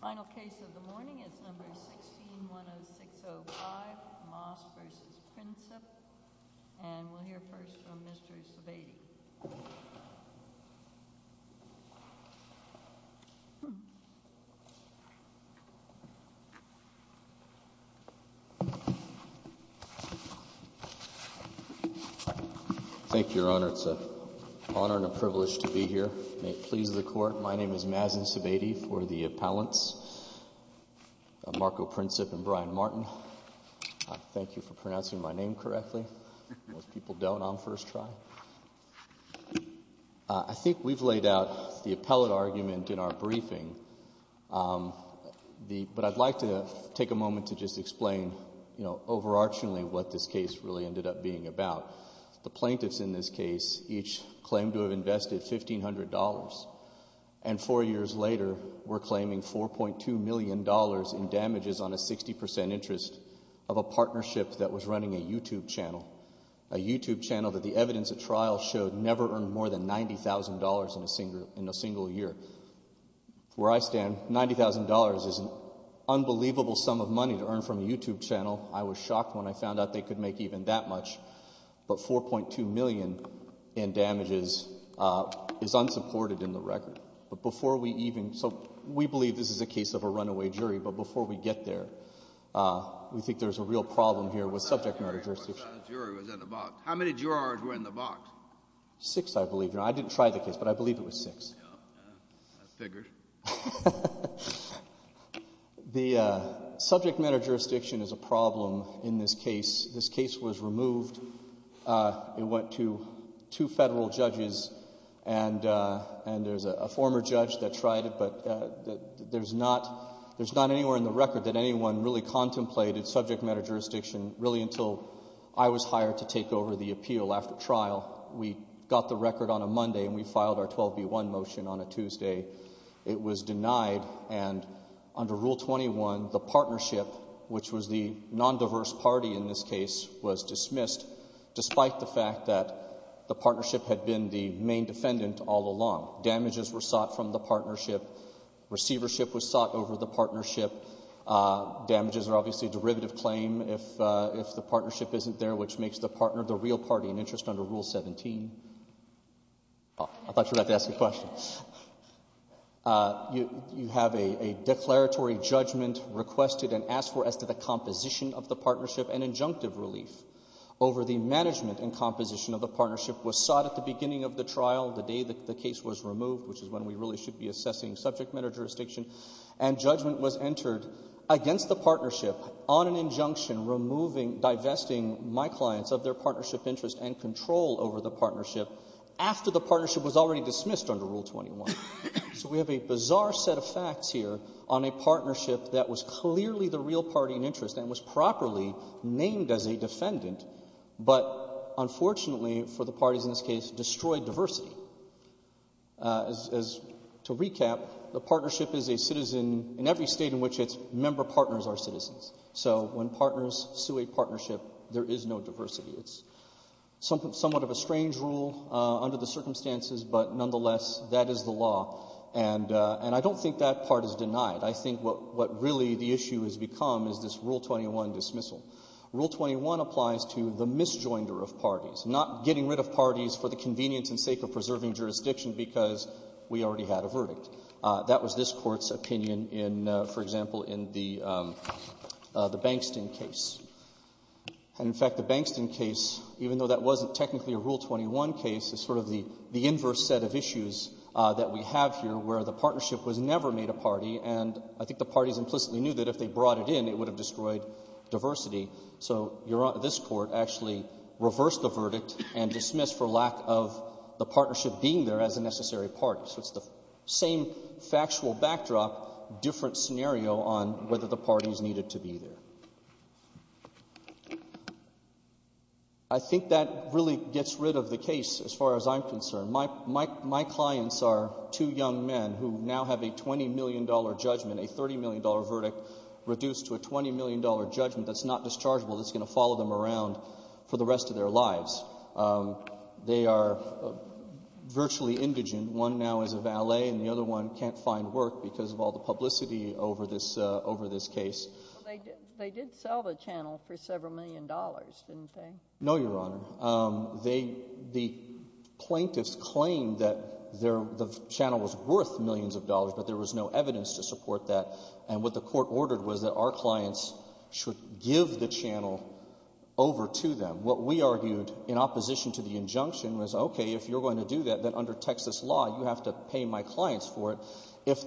Final case of the morning is No. 16-10605, Moss v. Princip, and we'll hear first from Mr. Sebade. Thank you, Your Honor. It's an honor and a privilege to be here. May it please the Court, my name is Mazen Sebade for the appellants, Marko Princip and Brian Martin. Thank you for pronouncing my name correctly. Most people don't on first try. I think we've laid out the appellate argument in our briefing, but I'd like to take a moment to just explain, you know, overarchingly what this case really ended up being about. The plaintiffs in this case each claimed to have invested $1,500, and four years later were claiming $4.2 million in damages on a 60% interest of a partnership that was running a YouTube channel, a YouTube channel that the evidence at trial showed never earned more than $90,000 in a single year. Where I stand, $90,000 is an unbelievable sum of money to earn from a YouTube channel. I was shocked when I found out they could make even that much, but $4.2 million in damages is unsupported in the record. But before we even, so we believe this is a case of a runaway jury, but before we get there, we think there's a real problem here with subject matter jurisdiction. How many jurors were in the box? Six, I believe. I didn't try the case, but I believe it was six. I figured. The subject matter jurisdiction is a problem in this case. This case was removed. It went to two federal judges, and there's a former judge that tried it, but there's not anywhere in the record that anyone really contemplated subject matter jurisdiction, really until I was hired to take over the appeal after trial. We got the record on a Monday, and we filed our 12B1 motion on a Tuesday. It was denied, and under Rule 21, the partnership, which was the non-diverse party in this case, was dismissed, despite the fact that the partnership had been the main defendant all along. Damages were sought from the partnership. Receivership was sought over the partnership. Damages are obviously a derivative claim if the partnership isn't there, which makes the partner the real party in interest under Rule 17. I thought you were about to ask a question. You have a declaratory judgment requested and asked for as to the composition of the partnership, and injunctive relief over the management and composition of the partnership was sought at the beginning of the trial, the day that the case was removed, which is when we really should be assessing subject matter jurisdiction, and judgment was entered against the partnership on an injunction removing, divesting my clients of their partnership interest and control over the partnership after the partnership was already dismissed under Rule 21. So we have a bizarre set of facts here on a partnership that was clearly the real party in interest and was properly named as a defendant, but unfortunately for the parties in this case, destroyed diversity. To recap, the partnership is a citizen in every state in which its member partners are citizens. So when partners sue a partnership, there is no diversity. It's somewhat of a strange rule under the circumstances, but nonetheless, that is the law. And I don't think that part is denied. I think what really the issue has become is this Rule 21 dismissal. Rule 21 applies to the misjoinder of parties, not getting rid of parties for the convenience and sake of preserving jurisdiction because we already had a verdict. That was this Court's opinion in, for example, in the Bankston case. And in fact, the Bankston case, even though that wasn't technically a Rule 21 case, is sort of the inverse set of issues that we have here where the partnership was never made a party, and I think the parties implicitly knew that if they brought it in, it would have destroyed diversity. So this Court actually reversed the verdict and dismissed for lack of the partnership being there as a necessary part. So it's the same factual backdrop, different scenario on whether the parties needed to be there. I think that really gets rid of the case as far as I'm concerned. My clients are two young men who now have a $20 million judgment, a $30 million verdict reduced to a $20 million judgment that's not dischargeable, that's going to follow them around for the rest of their lives. They are virtually indigent. One now is a valet and the other one can't find work because of all the publicity over this case. They did sell the channel for several million dollars, didn't they? No, Your Honor. The plaintiffs claimed that the channel was worth millions of dollars, but there was no evidence to support that, and what the Court ordered was that our clients should give the channel over to them. What we argued in opposition to the injunction was, okay, if you're going to do that, then under Texas law you have to pay my clients for it.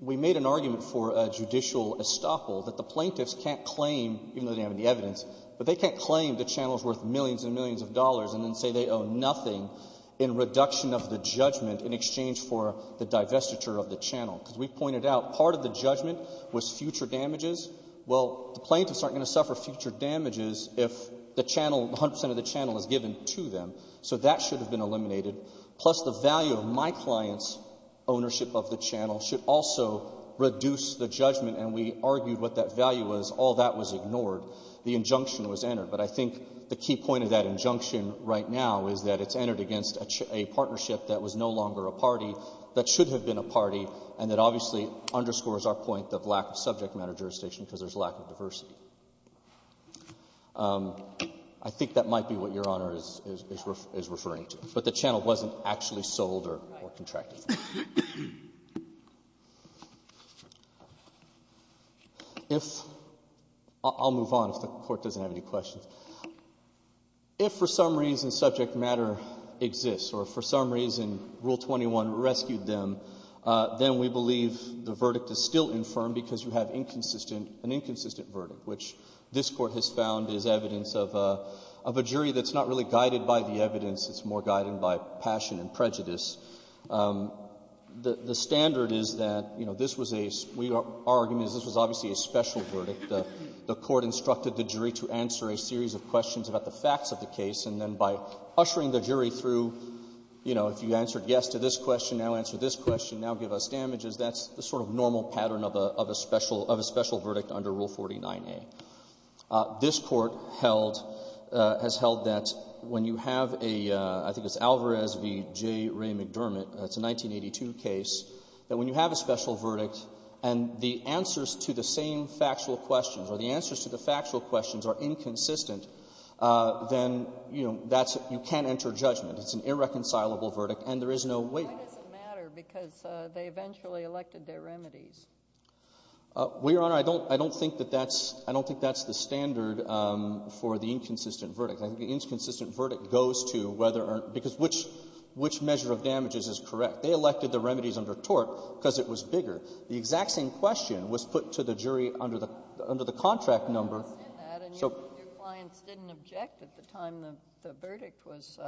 We made an argument for a judicial estoppel that the plaintiffs can't claim, even though they have any evidence, but they can't claim the channel is worth millions and millions of dollars and then say they owe nothing in reduction of the judgment in exchange for the divestiture of the channel, because we pointed out part of the judgment was future damages. Well, the plaintiffs aren't going to suffer future damages if the channel, 100 percent of the channel is given to them, so that should have been eliminated, plus the value of my client's ownership of the channel should also reduce the judgment, and we argued what that value was. All that was ignored. The injunction was entered. But I think the key point of that injunction right now is that it's entered against a partnership that was no longer a party, that should have been a party, and that obviously underscores our point of lack of subject matter jurisdiction because there's lack of diversity. I think that might be what Your Honor is referring to. But the channel wasn't actually sold or contracted. If I'll move on if the Court doesn't have any questions. If for some reason subject matter exists or for some reason Rule 21 rescued them, then we believe the verdict is still infirm because you have inconsistent, an inconsistent verdict, which this Court has found is evidence of a jury that's not really guided by the evidence. It's more guided by passion and prejudice. The standard is that, you know, this was a — our argument is this was obviously a special verdict. The Court instructed the jury to answer a series of questions about the facts of the case, and then by ushering the jury through, you know, if you answered yes to this question, now answer this question, now give us damages, that's the sort of normal pattern of a special — of a special verdict under Rule 49a. This Court held — has held that when you have a — I think it's Alvarez v. J. Ray McDermott, that's a 1982 case, that when you have a special verdict and the answers to the same factual questions or the answers to the factual questions are inconsistent, then, you know, that's — you can't enter judgment. It's an irreconcilable verdict, and there is no way — Why does it matter? Because they eventually elected their remedies. Well, Your Honor, I don't — I don't think that that's — I don't think that's the standard for the inconsistent verdict. I think the inconsistent verdict goes to whether or — because which — which measure of damages is correct. They elected the remedies under tort because it was bigger. The exact same question was put to the jury under the — under the contract number, so — I understand that, and your clients didn't object at the time the — the verdict was,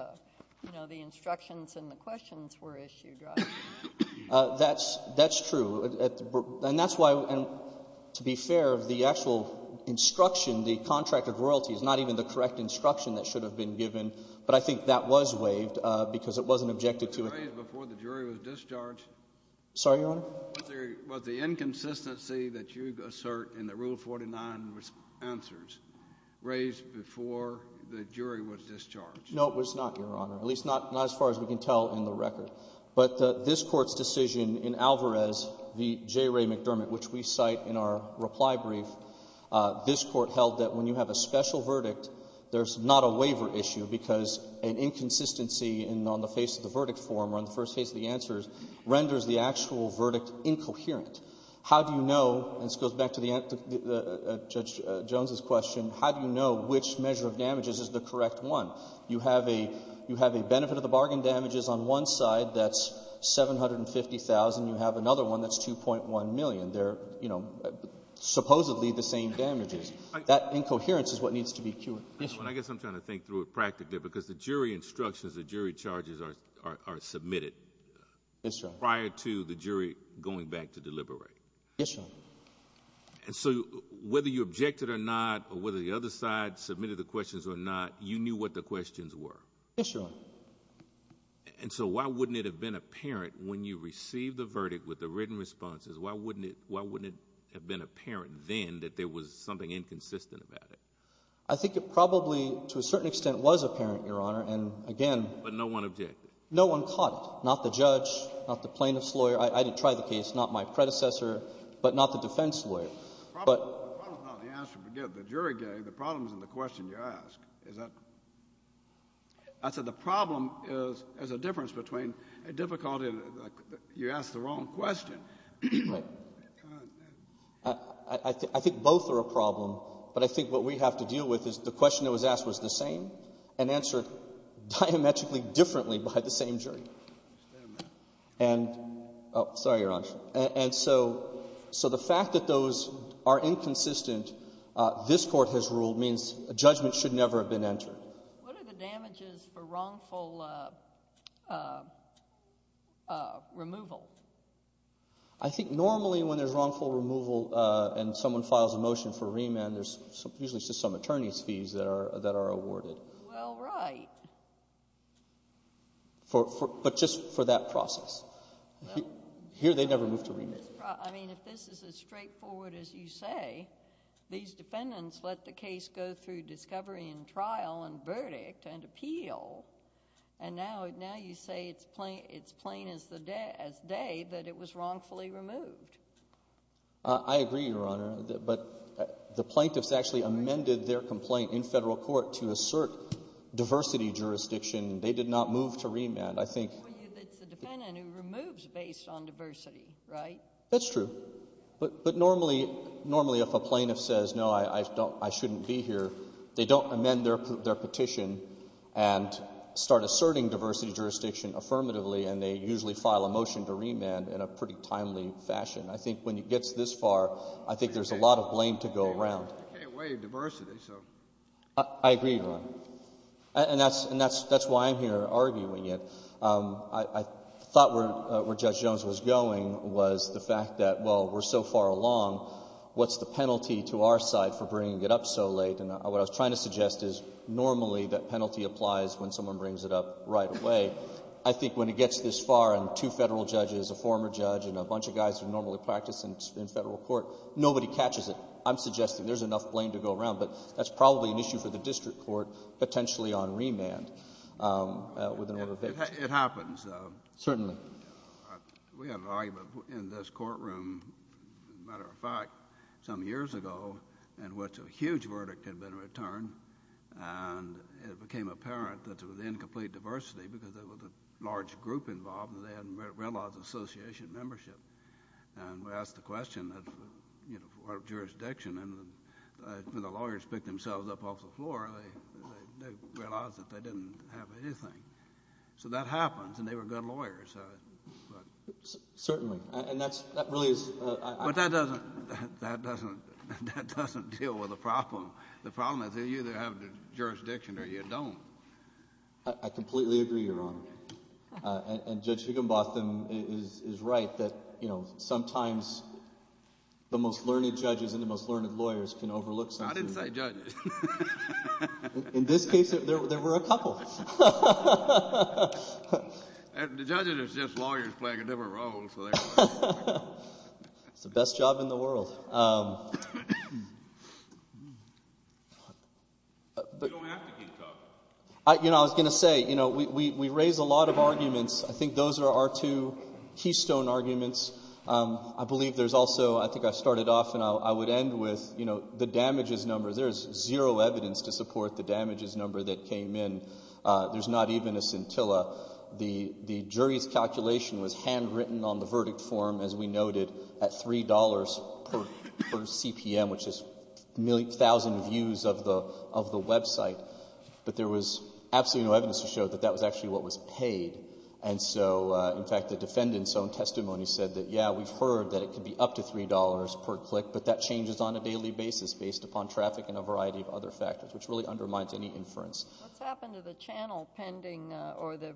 you know, the instructions and the questions were issued, right? That's — that's true, and that's why — and to be fair, the actual instruction, the contract of royalty, is not even the correct instruction that should have been given, but I think that was waived because it wasn't objected to. Was it raised before the jury was discharged? Sorry, Your Honor? Was there — was the inconsistency that you assert in the Rule 49 answers raised before the jury was discharged? No, it was not, Your Honor, at least not — not as far as we can tell in the record. But this Court's decision in Alvarez v. J. Ray McDermott, which we cite in our reply brief, this Court held that when you have a special verdict, there's not a waiver issue because an inconsistency in — on the face of the verdict form or on the first case of the answers renders the actual verdict incoherent. How do you know — and this goes back to the — Judge Jones's question. How do you know which measure of damages is the correct one? You have a — you have a benefit of the bargain damages on one side that's 750,000. You have another one that's 2.1 million. They're, you know, supposedly the same damages. That incoherence is what needs to be cured. Yes, Your Honor. I guess I'm trying to think through it practically because the jury instructions, the jury charges are — are — are submitted prior to the jury going back to deliberate. Yes, Your Honor. And so whether you objected or not or whether the other side submitted the questions or not, you knew what the questions were. Yes, Your Honor. And so why wouldn't it have been apparent when you received the verdict with the written responses, why wouldn't it — why wouldn't it have been apparent then that there was something inconsistent about it? I think it probably, to a certain extent, was apparent, Your Honor. And again — But no one objected? No one caught it. Not the judge, not the plaintiff's lawyer. I didn't try the case. Not my predecessor, but not the defense lawyer. But — The problem is not the answer, forgive the jury gave. The problem is in the question you asked. Is that — I said the problem is — is a difference between a difficulty in — you asked the wrong question. I think both are a problem, but I think what we have to deal with is the question that was asked was the same and answered diametrically differently by the same jury. I understand that. And — oh, sorry, Your Honor. And so the fact that those are inconsistent, this Court has ruled, means a judgment should never have been entered. What are the damages for wrongful removal? I think normally when there's wrongful removal and someone files a motion for remand, there's usually just some attorney's fees that are awarded. Well, right. But just for that process. Here they never move to remand. I mean, if this is as straightforward as you say, these defendants let the case go through discovery and trial and verdict and appeal, and now you say it's plain as day that it was wrongfully removed. I agree, Your Honor. But the plaintiffs actually amended their complaint in federal court to assert diversity jurisdiction. They did not move to remand. I think — It's the defendant who removes based on diversity, right? That's true. But normally if a plaintiff says, no, I shouldn't be here, they don't amend their petition and start asserting diversity jurisdiction affirmatively, and they usually file a motion to remand in a pretty timely fashion. I think when it gets this far, I think there's a lot of blame to go around. You can't waive diversity, so — I agree, Your Honor. And that's why I'm here arguing it. I thought where Judge Jones was going was the fact that, well, we're so far along, what's the penalty to our side for bringing it up so late? And what I was trying to suggest is normally that penalty applies when someone brings it up right away. I think when it gets this far and two Federal judges, a former judge and a bunch of guys who normally practice in Federal court, nobody catches it. I'm suggesting there's enough blame to go around. But that's probably an issue for the district court potentially on remand. It happens. Certainly. We had an argument in this courtroom, as a matter of fact, some years ago in which a huge verdict had been returned. And it became apparent that it was incomplete diversity because there was a large group involved and they hadn't realized association membership. And we asked the question, you know, for our jurisdiction, and the lawyers picked themselves up off the floor. They realized that they didn't have anything. So that happens, and they were good lawyers. Certainly. But that doesn't deal with the problem. The problem is you either have the jurisdiction or you don't. I completely agree, Your Honor. And Judge Higginbotham is right that, you know, sometimes the most learned judges and the most learned lawyers can overlook something. I didn't say judges. In this case, there were a couple. The judges are just lawyers playing a different role. It's the best job in the world. You don't have to keep talking. You know, I was going to say, you know, we raise a lot of arguments. I think those are our two keystone arguments. I believe there's also, I think I started off and I would end with, you know, the damages number. There is zero evidence to support the damages number that came in. There's not even a scintilla. The jury's calculation was handwritten on the verdict form, as we noted, at $3 per CPM, which is a thousand views of the website. But there was absolutely no evidence to show that that was actually what was paid. And so, in fact, the defendant's own testimony said that, yeah, we've heard that it could be up to $3 per click, but that changes on a daily basis based upon traffic and a variety of other factors, which really undermines any inference. What's happened to the channel pending or the,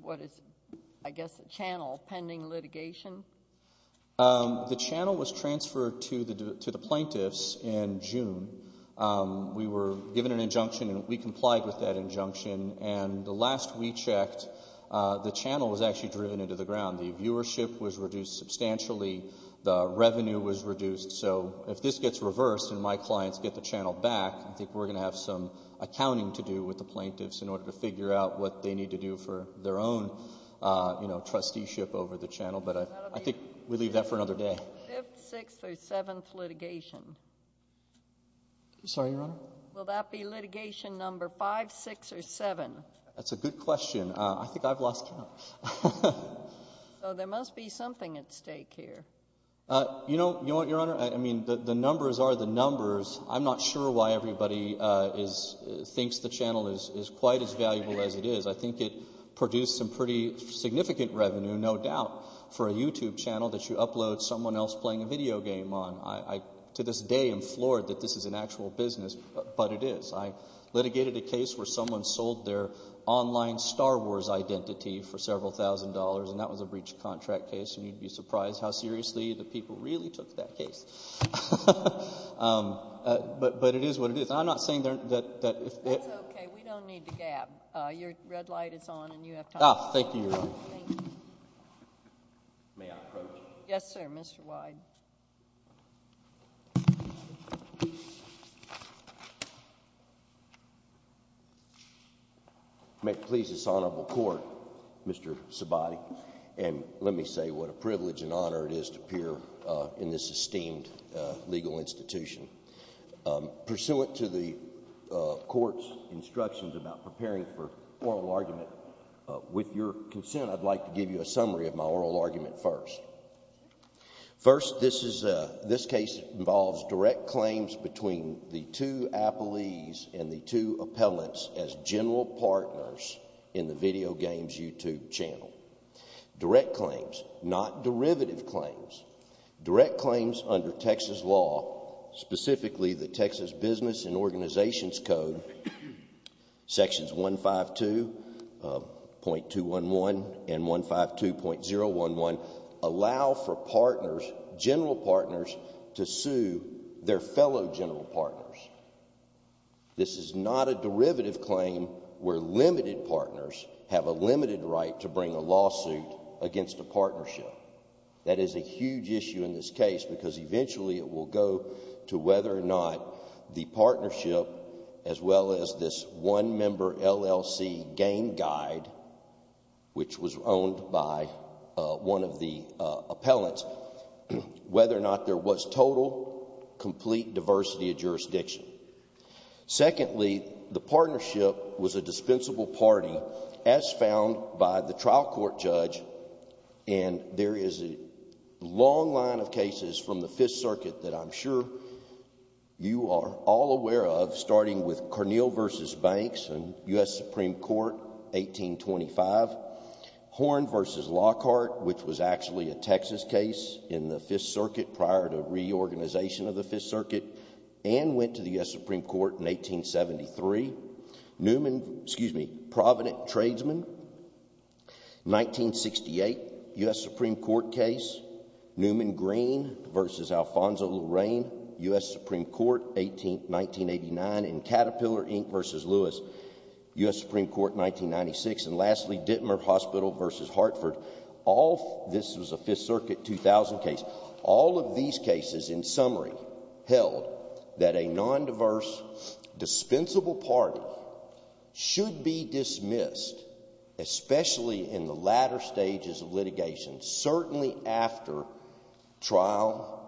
what is it, I guess the channel pending litigation? The channel was transferred to the plaintiffs in June. And the last we checked, the channel was actually driven into the ground. The viewership was reduced substantially. The revenue was reduced. So if this gets reversed and my clients get the channel back, I think we're going to have some accounting to do with the plaintiffs in order to figure out what they need to do for their own, you know, trusteeship over the channel. But I think we leave that for another day. Fifth, sixth, or seventh litigation? I'm sorry, Your Honor? Will that be litigation number five, six, or seven? That's a good question. I think I've lost count. So there must be something at stake here. You know, Your Honor, I mean, the numbers are the numbers. I'm not sure why everybody thinks the channel is quite as valuable as it is. I think it produced some pretty significant revenue, no doubt, for a YouTube channel that you upload someone else playing a video game on. I, to this day, am floored that this is an actual business, but it is. I litigated a case where someone sold their online Star Wars identity for several thousand dollars, and that was a breach of contract case. And you'd be surprised how seriously the people really took that case. But it is what it is. I'm not saying that if they're That's okay. We don't need to gab. Your red light is on and you have time. Thank you, Your Honor. Thank you. May I approach? Yes, sir, Mr. Wyde. May it please this honorable court, Mr. Sabati, and let me say what a privilege and honor it is to appear in this esteemed legal institution. Pursuant to the court's instructions about preparing for oral argument, with your consent, I'd like to give you a summary of my oral argument first. First, this case involves direct claims between the two appellees and the two appellants as general partners in the Video Games YouTube channel. Direct claims, not derivative claims. Direct claims under Texas law, specifically the Texas Business and Organizations Code, Sections 152.211 and 152.011 allow for partners, general partners, to sue their fellow general partners. This is not a derivative claim where limited partners have a limited right to bring a lawsuit against a partnership. That is a huge issue in this case because eventually it will go to whether or not the partnership, as well as this one-member LLC game guide, which was owned by one of the appellants, whether or not there was total, complete diversity of jurisdiction. Secondly, the partnership was a dispensable party, as found by the trial court judge, and there is a long line of cases from the Fifth Circuit that I'm sure you are all aware of, starting with Cornell v. Banks in U.S. Supreme Court, 1825. Horn v. Lockhart, which was actually a Texas case in the Fifth Circuit prior to reorganization of the Fifth Circuit and went to the U.S. Supreme Court in 1873. Newman, excuse me, Provident Tradesman, 1968 U.S. Supreme Court case. Newman Green v. Alfonso Lorraine, U.S. Supreme Court, 1989. And Caterpillar, Inc. v. Lewis, U.S. Supreme Court, 1996. And lastly, Dittmer Hospital v. Hartford. This was a Fifth Circuit 2000 case. All of these cases, in summary, held that a nondiverse, dispensable party should be dismissed, especially in the latter stages of litigation, certainly after trial,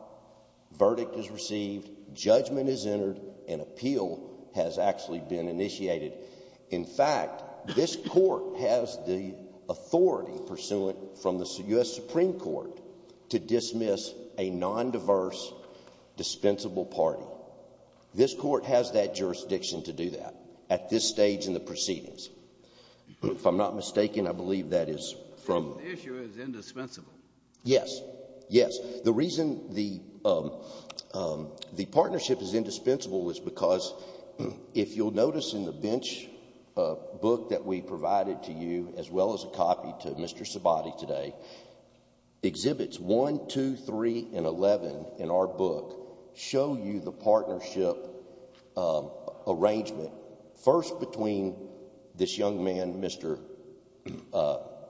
verdict is received, judgment is entered, and appeal has actually been initiated. In fact, this court has the authority, pursuant from the U.S. Supreme Court, to dismiss a nondiverse, dispensable party. No. This court has that jurisdiction to do that at this stage in the proceedings. If I'm not mistaken, I believe that is from... The issue is indispensable. Yes. Yes. The reason the partnership is indispensable is because, if you'll notice in the bench book that we provided to you, as well as a copy to Mr. Sabati today, exhibits 1, 2, 3, and 11 in our book show you the partnership arrangement, first between this young man, Mr.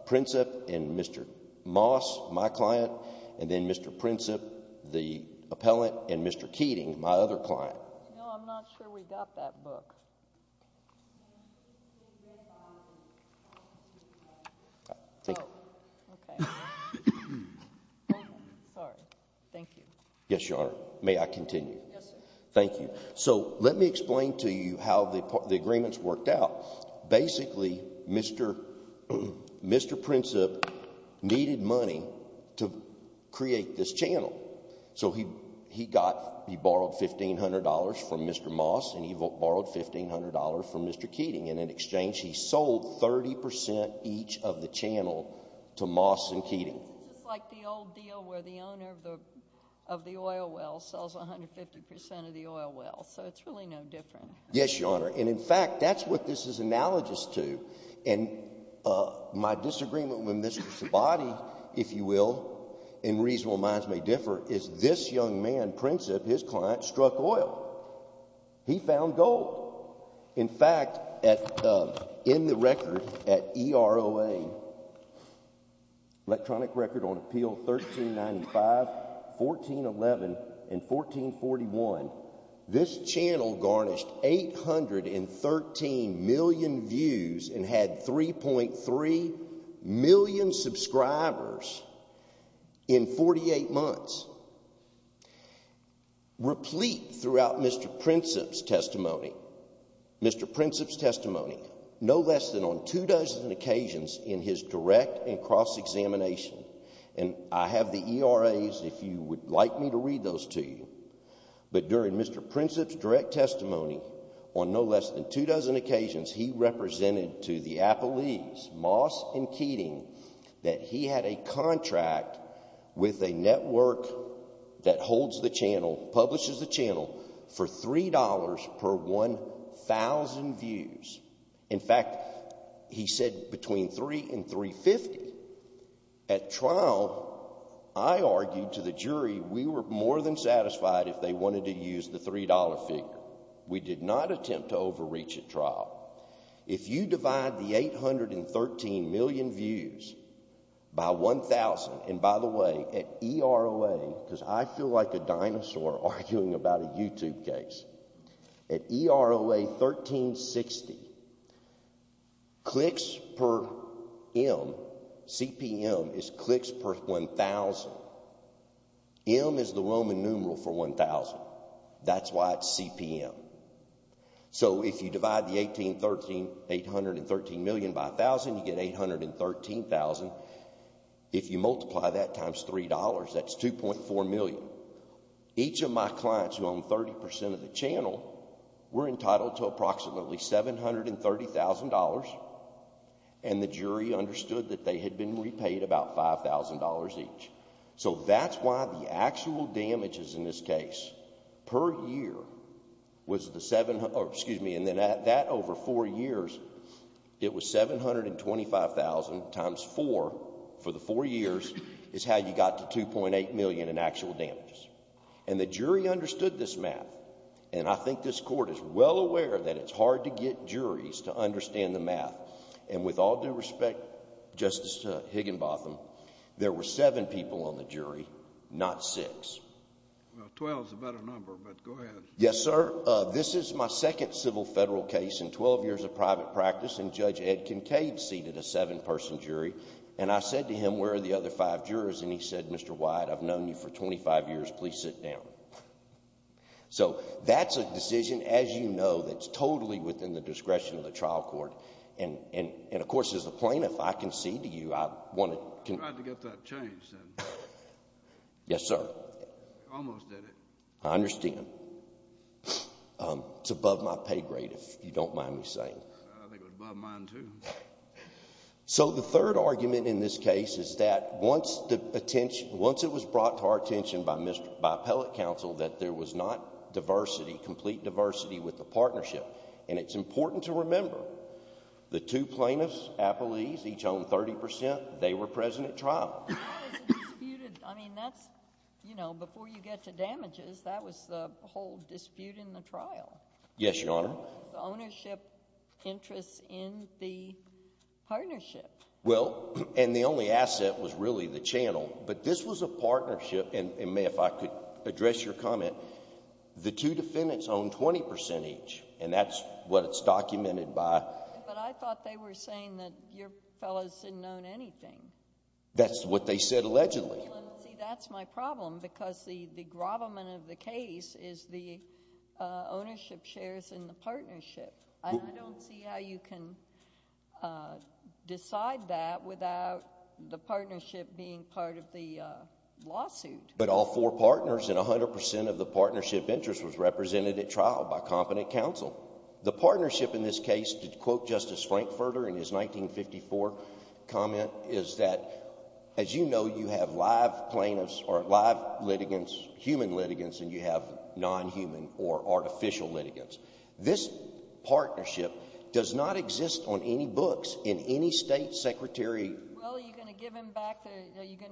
Princip, and Mr. Moss, my client, and then Mr. Princip, the appellant, and Mr. Keating, my other client. No, I'm not sure we got that book. Oh, okay. Sorry. Thank you. Yes, Your Honor. May I continue? Yes, sir. Thank you. So let me explain to you how the agreements worked out. Basically, Mr. Princip needed money to create this channel. So he borrowed $1,500 from Mr. Moss and he borrowed $1,500 from Mr. Keating, and in exchange he sold 30% each of the channel to Moss and Keating. This is just like the old deal where the owner of the oil well sells 150% of the oil well. So it's really no different. Yes, Your Honor. And in fact, that's what this is analogous to. And my disagreement with Mr. Sabati, if you will, and reasonable minds may differ, is this young man, Princip, his client, struck oil. He found gold. In fact, in the record at EROA, Electronic Record on Appeal 1395, 1411, and 1441, this channel garnished 813 million views and had 3.3 million subscribers in 48 months. Replete throughout Mr. Princip's testimony, Mr. Princip's testimony, no less than on two dozen occasions in his direct and cross-examination, and I have the ERAs, if you would like me to read those to you, but during Mr. Princip's direct testimony, on no less than two dozen occasions, he represented to the Appellees, Moss and Keating, that he had a contract with a network that holds the channel, publishes the channel, for $3 per 1,000 views. In fact, he said between $3 and $3.50. At trial, I argued to the jury we were more than satisfied if they wanted to use the $3 figure. We did not attempt to overreach at trial. If you divide the 813 million views by 1,000, and by the way, at EROA, because I feel like a dinosaur arguing about a YouTube case, at EROA 1360, clicks per M, CPM, is clicks per 1,000. M is the Roman numeral for 1,000. That's why it's CPM. So if you divide the 813 million by 1,000, you get 813,000. If you multiply that times $3, that's $2.4 million. Each of my clients who own 30% of the channel were entitled to approximately $730,000, and the jury understood that they had been repaid about $5,000 each. So that's why the actual damages in this case per year was the 700, excuse me, and then that over four years, it was $725,000 times 4 for the four years is how you got to $2.8 million in actual damages. And the jury understood this math, and I think this Court is well aware that it's hard to get juries to understand the math, and with all due respect, Justice Higginbotham, there were seven people on the jury, not six. Well, 12 is a better number, but go ahead. Yes, sir. This is my second civil federal case in 12 years of private practice, and Judge Ed Kincaid seated a seven-person jury, and I said to him, Where are the other five jurors? And he said, Mr. Wyatt, I've known you for 25 years. Please sit down. So that's a decision, as you know, that's totally within the discretion of the trial court, and, of course, as a plaintiff, I concede to you I want to... I tried to get that changed. Yes, sir. Almost did it. I understand. It's above my pay grade, if you don't mind me saying. I think it was above mine, too. So the third argument in this case is that once the attention... Once it was brought to our attention by appellate counsel that there was not diversity, complete diversity with the partnership, and it's important to remember the two plaintiffs, appellees, each owned 30%, they were present at trial. How is it disputed? I mean, that's, you know, before you get to damages, that was the whole dispute in the trial. Yes, Your Honor. Ownership interests in the partnership. Well, and the only asset was really the channel, but this was a partnership, and, ma'am, if I could address your comment, the two defendants owned 20% each, and that's what it's documented by. But I thought they were saying that your fellows didn't own anything. That's what they said allegedly. See, that's my problem, because the grovelment of the case is the ownership shares in the partnership, and I don't see how you can decide that without the partnership being part of the lawsuit. But all four partners and 100% of the partnership interest was represented at trial by competent counsel. The partnership in this case, to quote Justice Frankfurter in his 1954 comment, is that, as you know, you have live plaintiffs or live litigants, human litigants, and you have nonhuman or artificial litigants. This partnership does not exist on any books in any state secretary... Well, are you going to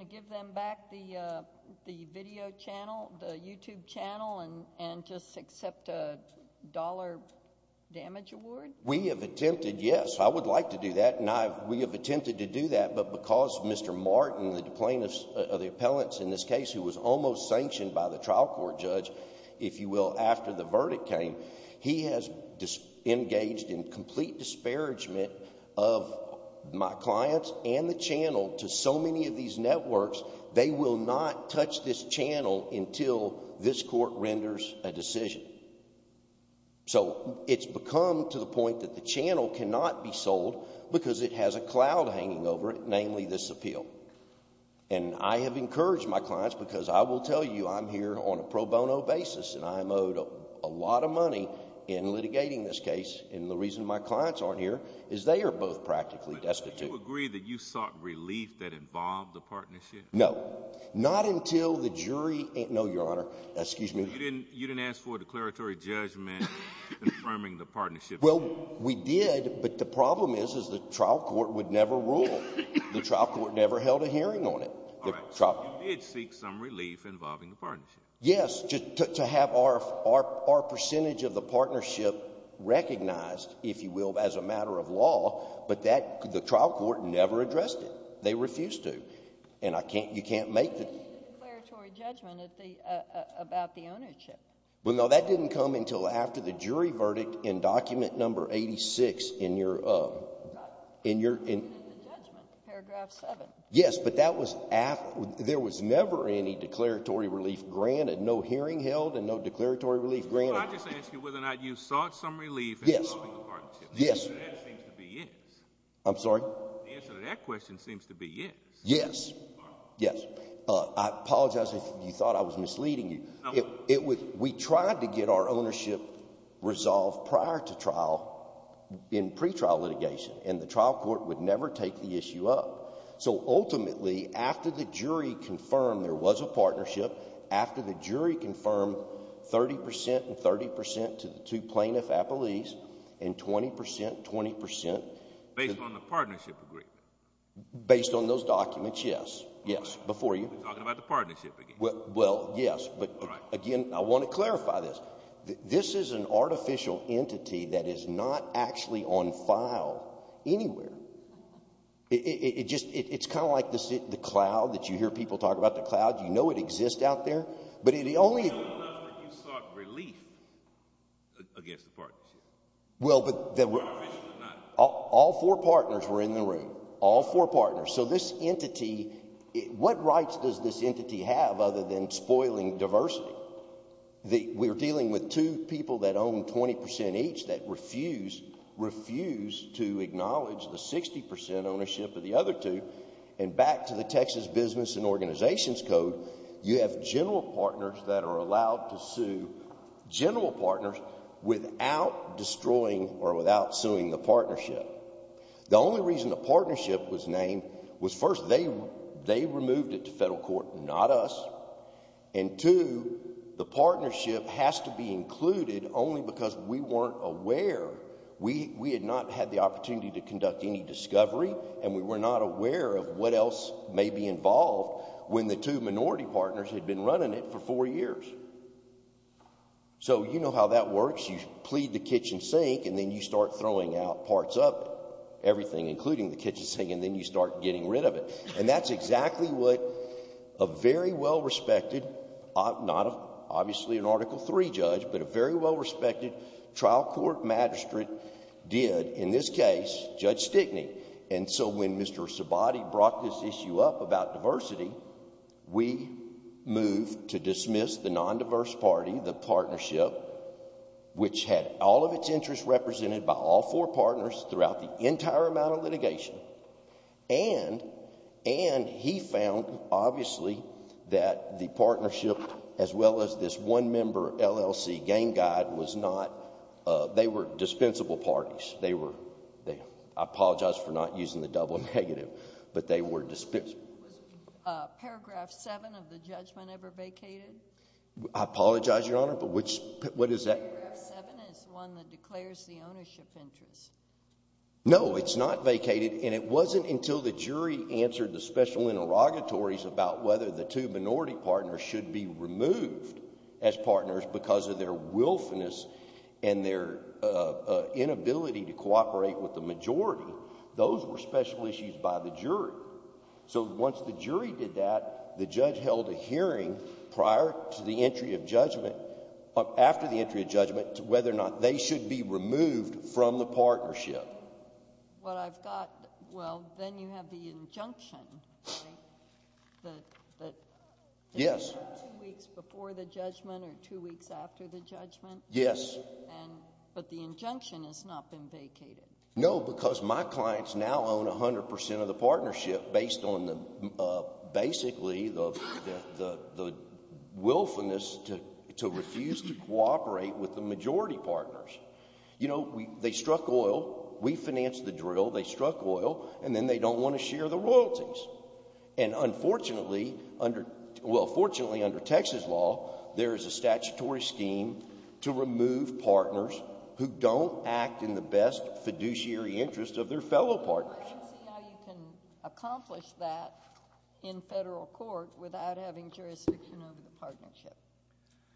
give them back the video channel, the YouTube channel, and just accept a dollar damage award? We have attempted, yes, I would like to do that, and we have attempted to do that, but because Mr. Martin, the plaintiff, or the appellant in this case, who was almost sanctioned by the trial court judge, if you will, after the verdict came, he has engaged in complete disparagement of my clients and the channel to so many of these networks, they will not touch this channel until this court renders a decision. So it's become to the point that the channel cannot be sold because it has a cloud hanging over it, namely this appeal. And I have encouraged my clients because I will tell you I'm here on a pro bono basis, and I'm owed a lot of money in litigating this case, and the reason my clients aren't here is they are both practically destitute. But do you agree that you sought relief that involved the partnership? No, not until the jury... No, Your Honor, excuse me. You didn't ask for a declaratory judgment confirming the partnership? Well, we did, but the problem is is the trial court would never rule. The trial court never held a hearing on it. All right, so you did seek some relief involving the partnership. Yes, to have our percentage of the partnership recognized, if you will, as a matter of law, but the trial court never addressed it. They refused to. And you can't make the... ...declaratory judgment about the ownership. Well, no, that didn't come until after the jury verdict in document number 86 in your... ...judgment, paragraph 7. Yes, but that was after... There was never any declaratory relief granted, no hearing held and no declaratory relief granted. Well, I just asked you whether or not you sought some relief involving the partnership. The answer to that seems to be yes. I'm sorry? The answer to that question seems to be yes. Yes, yes. I apologize if you thought I was misleading you. We tried to get our ownership resolved prior to trial in pretrial litigation, and the trial court would never take the issue up. So, ultimately, after the jury confirmed there was a partnership, after the jury confirmed 30% and 30% to the two plaintiff appellees, and 20%, 20%... Based on the partnership agreement. Based on those documents, yes. Yes, before you... We're talking about the partnership again. Well, yes, but, again, I want to clarify this. This is an artificial entity that is not actually on file anywhere. It just... It's kind of like the cloud that you hear people talk about, the cloud. You know it exists out there, but it only... No, we know that you sought relief against the partnership. Well, but... All four partners were in the room. All four partners. So this entity... What rights does this entity have other than spoiling diversity? We're dealing with two people that own 20% each that refuse to acknowledge the 60% ownership of the other two. And back to the Texas Business and Organizations Code, you have general partners that are allowed to sue general partners without destroying or without suing the partnership. The only reason the partnership was named was, first, they removed it to federal court, not us, and, two, the partnership has to be included only because we weren't aware. We had not had the opportunity to conduct any discovery, and we were not aware of what else may be involved when the two minority partners had been running it for four years. So you know how that works. You plead the kitchen sink, and then you start throwing out parts of it, everything, including the kitchen sink, and then you start getting rid of it. And that's exactly what a very well-respected, not obviously an Article III judge, but a very well-respected trial court magistrate did, in this case, Judge Stickney. And so when Mr. Sabati brought this issue up about diversity, we moved to dismiss the non-diverse party, the partnership, by all four partners throughout the entire amount of litigation. And he found, obviously, that the partnership, as well as this one-member LLC gang guide, was not... They were dispensable parties. They were... I apologize for not using the double negative, but they were dispensable. Was Paragraph 7 of the judgment ever vacated? I apologize, Your Honor, but which... What is that? Paragraph 7 is the one that declares the ownership interest. No, it's not vacated, and it wasn't until the jury answered the special interrogatories about whether the two minority partners should be removed as partners because of their wilfulness and their inability to cooperate with the majority. Those were special issues by the jury. So once the jury did that, the judge held a hearing prior to the entry of judgment, after the entry of judgment, whether or not they should be removed from the partnership. What I've got... Well, then you have the injunction, right? The... Yes. Two weeks before the judgment or two weeks after the judgment? Yes. And... But the injunction has not been vacated. No, because my clients now own 100% of the partnership based on, basically, the wilfulness to refuse to cooperate with the majority partners. You know, they struck oil, we financed the drill, they struck oil, and then they don't want to share the royalties. And unfortunately, under... Well, fortunately, under Texas law, there is a statutory scheme to remove partners who don't act in the best fiduciary interest of their fellow partners. I don't see how you can accomplish that in Federal court without having jurisdiction over the partnership.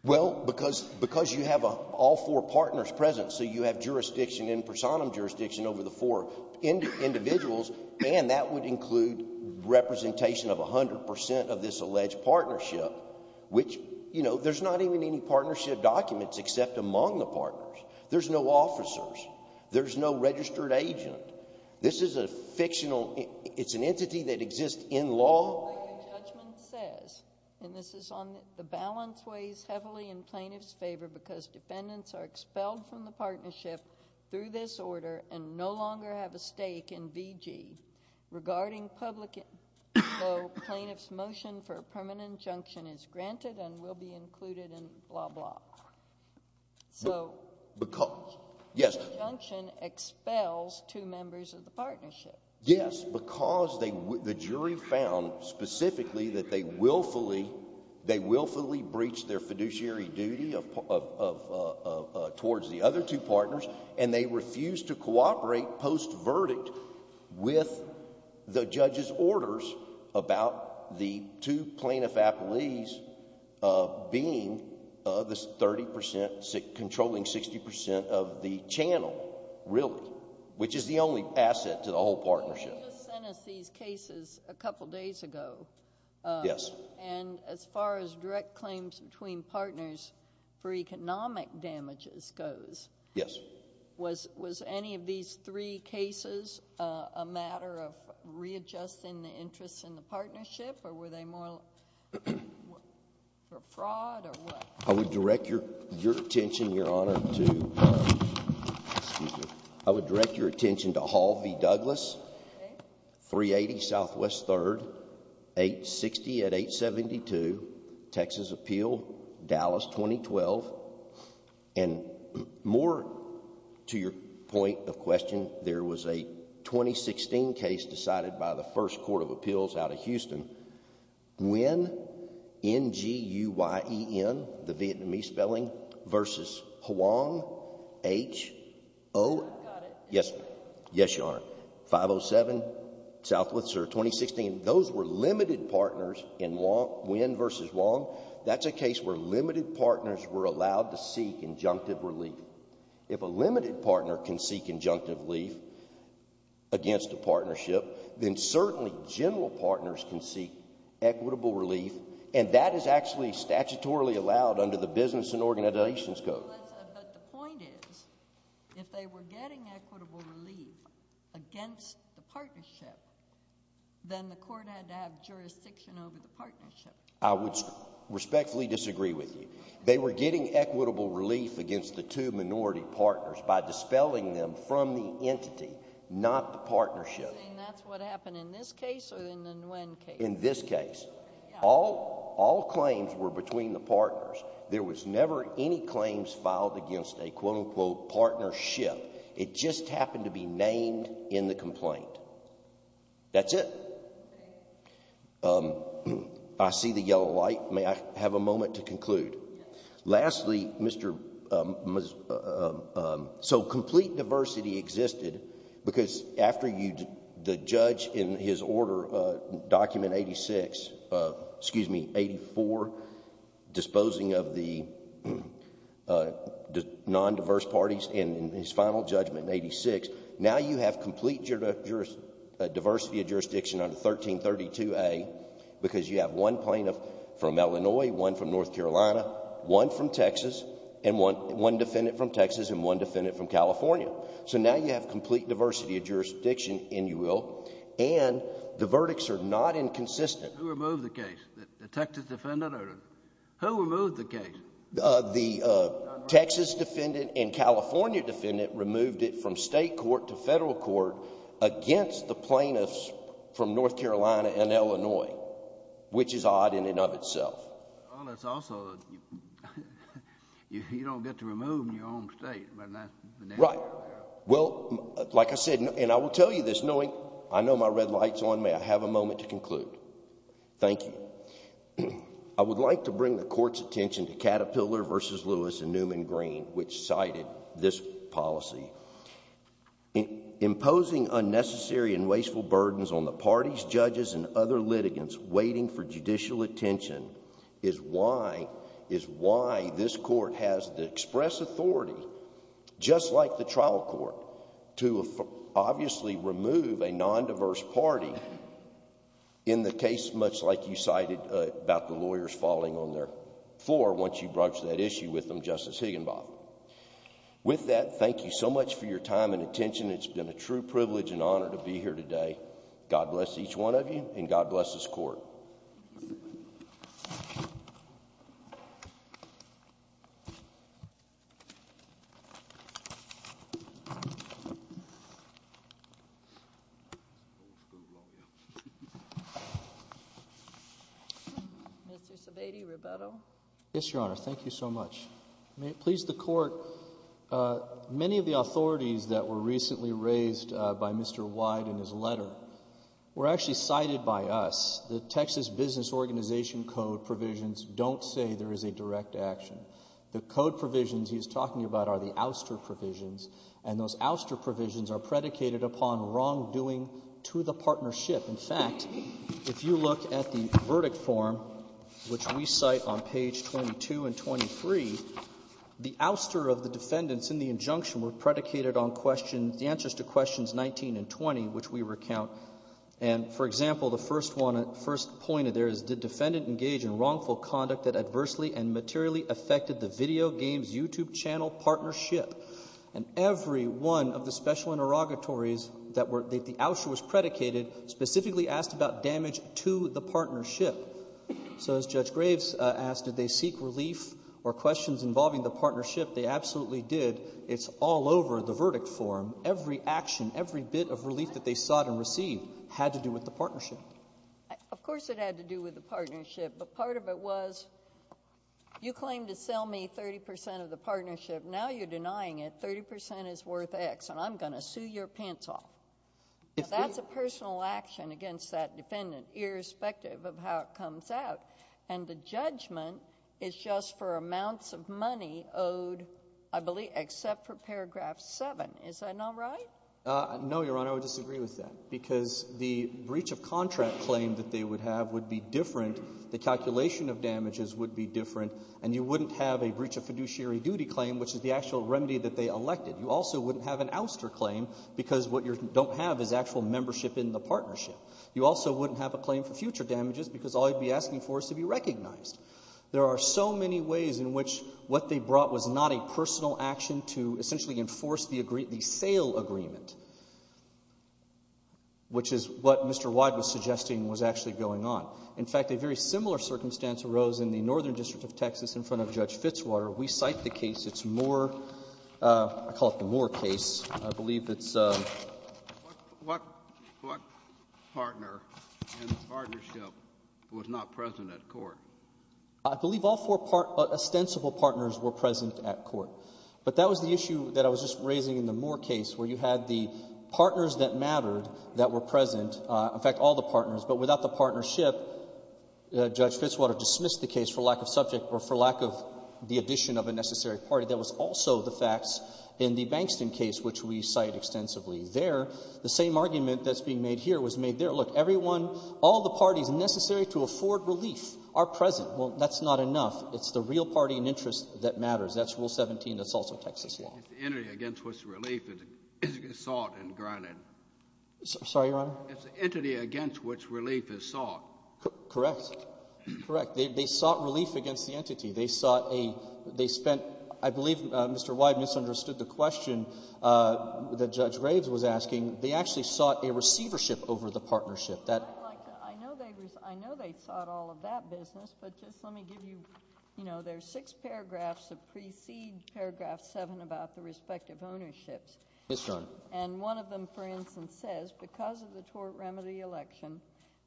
Well, because you have all four partners present, so you have jurisdiction, in personam jurisdiction, over the four individuals, and that would include representation of 100% of this alleged partnership, which, you know, there's not even any partnership documents except among the partners. There's no officers. There's no registered agent. This is a fictional... It's an entity that exists in law. The way the judgment says, and this is on the balance weighs heavily in plaintiff's favor because defendants are expelled from the partnership through this order and no longer have a stake in VG regarding public... So plaintiff's motion for a permanent injunction is granted and will be included in blah, blah. So... Because... Yes. The injunction expels two members of the partnership. Yes, because the jury found specifically that they willfully... they willfully breached their fiduciary duty of... towards the other two partners and they refused to cooperate post-verdict with the judge's orders about the two plaintiff appellees being the 30%... controlling 60% of the channel, really, which is the only asset to the whole partnership. Well, you just sent us these cases a couple days ago. Yes. And as far as direct claims between partners for economic damages goes... Yes. Was any of these three cases a matter of readjusting the interests in the partnership or were they more... for fraud or what? I would direct your attention, Your Honor, to... Excuse me. I would direct your attention to Hall v. Douglas, 380 Southwest 3rd, 860 at 872, Texas Appeal, Dallas 2012. And more to your point of question, there was a 2016 case decided by the First Court of Appeals out of Houston. Nguyen, N-G-U-Y-E-N, the Vietnamese spelling, versus Hoang, H-O... I've got it. Yes. Yes, Your Honor. 507 Southwest, or 2016, those were limited partners in Nguyen versus Hoang. That's a case where limited partners were allowed to seek injunctive relief. If a limited partner can seek injunctive relief against a partnership, then certainly general partners can seek equitable relief, and that is actually statutorily allowed under the Business and Organizations Code. But the point is, if they were getting equitable relief against the partnership, then the court had to have jurisdiction over the partnership. I would respectfully disagree with you. They were getting equitable relief against the two minority partners by dispelling them from the entity, not the partnership. And that's what happened in this case or in the Nguyen case? In this case. All claims were between the partners. There was never any claims filed against a quote-unquote partnership. It just happened to be named in the complaint. That's it. I see the yellow light. May I have a moment to conclude? Lastly, Mr. Maz... So complete diversity existed because after the judge, in his order, Document 86, excuse me, 84, disposing of the non-diverse parties in his final judgment in 86, now you have complete diversity of jurisdiction under 1332A because you have one plaintiff from Illinois, one from North Carolina, one from Texas, and one defendant from Texas and one defendant from California. So now you have complete diversity of jurisdiction, and you will, Who removed the case? The Texas defendant? Who removed the case? The Texas defendant and California defendant removed it from state court to federal court against the plaintiffs from North Carolina and Illinois, which is odd in and of itself. Well, that's also... You don't get to remove in your own state. Right. Well, like I said, and I will tell you this, knowing I know my red light's on, may I have a moment to conclude? Thank you. I would like to bring the court's attention to Caterpillar v. Lewis and Newman Green, which cited this policy. Imposing unnecessary and wasteful burdens on the parties, judges, and other litigants waiting for judicial attention is why this court has the express authority, just like the trial court, to obviously remove a non-diverse party in the case, much like you cited about the lawyers falling on their floor once you broached that issue with them, Justice Higginbotham. With that, thank you so much for your time and attention. It's been a true privilege and honor to be here today. God bless each one of you, and God bless this court. Thank you. Mr. Sebade, Roberto. Yes, Your Honor, thank you so much. May it please the court, many of the authorities that were recently raised by Mr. White in his letter were actually cited by us. The Texas Business Organization code provisions don't say there is a direct action. The code provisions he's talking about are the ouster provisions, and those ouster provisions are predicated upon wrongdoing to the partnership. In fact, if you look at the verdict form, which we cite on page 22 and 23, the ouster of the defendants in the injunction were predicated on questions, the answers to questions 19 and 20, which we recount. And, for example, the first one, the first point there is, did defendant engage in wrongful conduct that adversely and materially affected the video games YouTube channel partnership? And every one of the special interrogatories that the ouster was predicated specifically asked about damage to the partnership. So as Judge Graves asked, did they seek relief or questions involving the partnership? They absolutely did. It's all over the verdict form. Every action, every bit of relief that they sought and received had to do with the partnership. Of course it had to do with the partnership, but part of it was, you claim to sell me 30% of the partnership. Now you're denying it. 30% is worth X, and I'm going to sue your pants off. That's a personal action against that defendant, irrespective of how it comes out. And the judgment is just for amounts of money owed, I believe, except for paragraph 7. Is that not right? No, Your Honor, I would disagree with that, because the breach of contract claim that they would have would be different. The calculation of damages would be different, and you wouldn't have a breach of fiduciary duty claim, which is the actual remedy that they elected. You also wouldn't have an ouster claim, because what you don't have is actual membership in the partnership. You also wouldn't have a claim for future damages, because all you'd be asking for is to be recognized. There are so many ways in which what they brought was not a personal action to essentially enforce the sale agreement, which is what Mr. Wyde was suggesting was actually going on. In fact, a very similar circumstance arose in the Northern District of Texas in front of Judge Fitzwater. We cite the case. It's Moore — I call it the Moore case. I believe it's — What — what partner in the partnership was not present at court? I believe all four ostensible partners were present at court. But that was the issue that I was just raising in the Moore case, where you had the partners that mattered that were present. In fact, all the partners. But without the partnership, Judge Fitzwater dismissed the case for lack of subject or for lack of the addition of a necessary party. That was also the facts in the Bankston case, which we cite extensively there. The same argument that's being made here was made there. Look, everyone, all the parties necessary to afford relief are present. Well, that's not enough. It's the real party in interest that matters. That's Rule 17. That's also Texas law. It's the entity against which relief is sought and granted. Sorry, Your Honor? It's the entity against which relief is sought. Correct. Correct. They sought relief against the entity. They sought a — they spent — I believe Mr. Wyde misunderstood the question that Judge Graves was asking. They actually sought a receivership over the partnership. I'd like to — I know they sought all of that business, but just let me give you — you know, there are six paragraphs that precede paragraph seven about the respective ownerships. Yes, Your Honor. And one of them, for instance, says, because of the tort remedy election,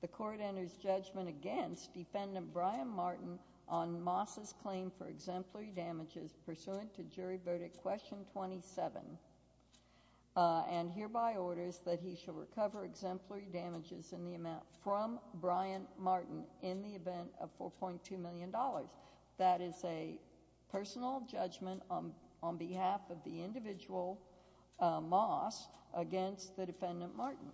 the court enters judgment against Defendant Brian Martin on Moss's claim for exemplary damages pursuant to jury verdict question 27 and hereby orders that he shall recover exemplary damages in the amount from Brian Martin in the event of $4.2 million. That is a personal judgment against the Defendant Martin.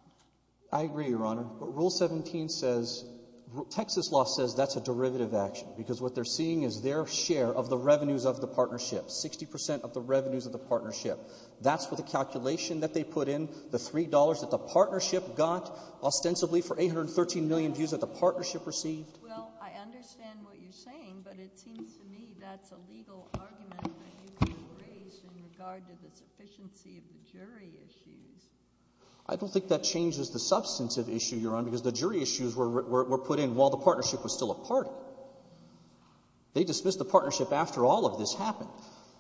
I agree, Your Honor. But Rule 17 says — Texas law says that's a derivative action because what they're seeing is their share of the revenues of the partnership, 60 percent of the revenues of the partnership. That's what the calculation that they put in, the $3 that the partnership got ostensibly for 813 million views that the partnership received. Well, I understand what you're saying, but it seems to me that's a legal argument that you could have raised in regard to the sufficiency of the jury issues. I don't think that changes the substantive issue, Your Honor, because the jury issues were put in while the partnership was still a party. They dismissed the partnership after all of this happened.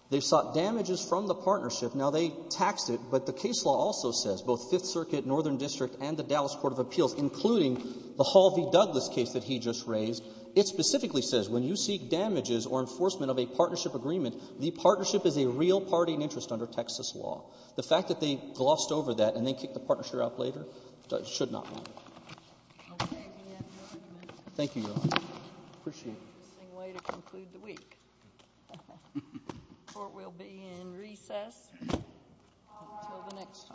They sought damages from the partnership. Now, they taxed it, but the case law also says, both Fifth Circuit, Northern District, and the Dallas Court of Appeals, including the Hall v. Douglas case that he just raised, it specifically says when you seek damages or enforcement of a partnership agreement, the partnership is a real party in interest under Texas law. The fact that they glossed over that and then kicked the partnership out later should not matter. Thank you, Your Honor. Appreciate it. ...way to conclude the week. Court will be in recess until the next time.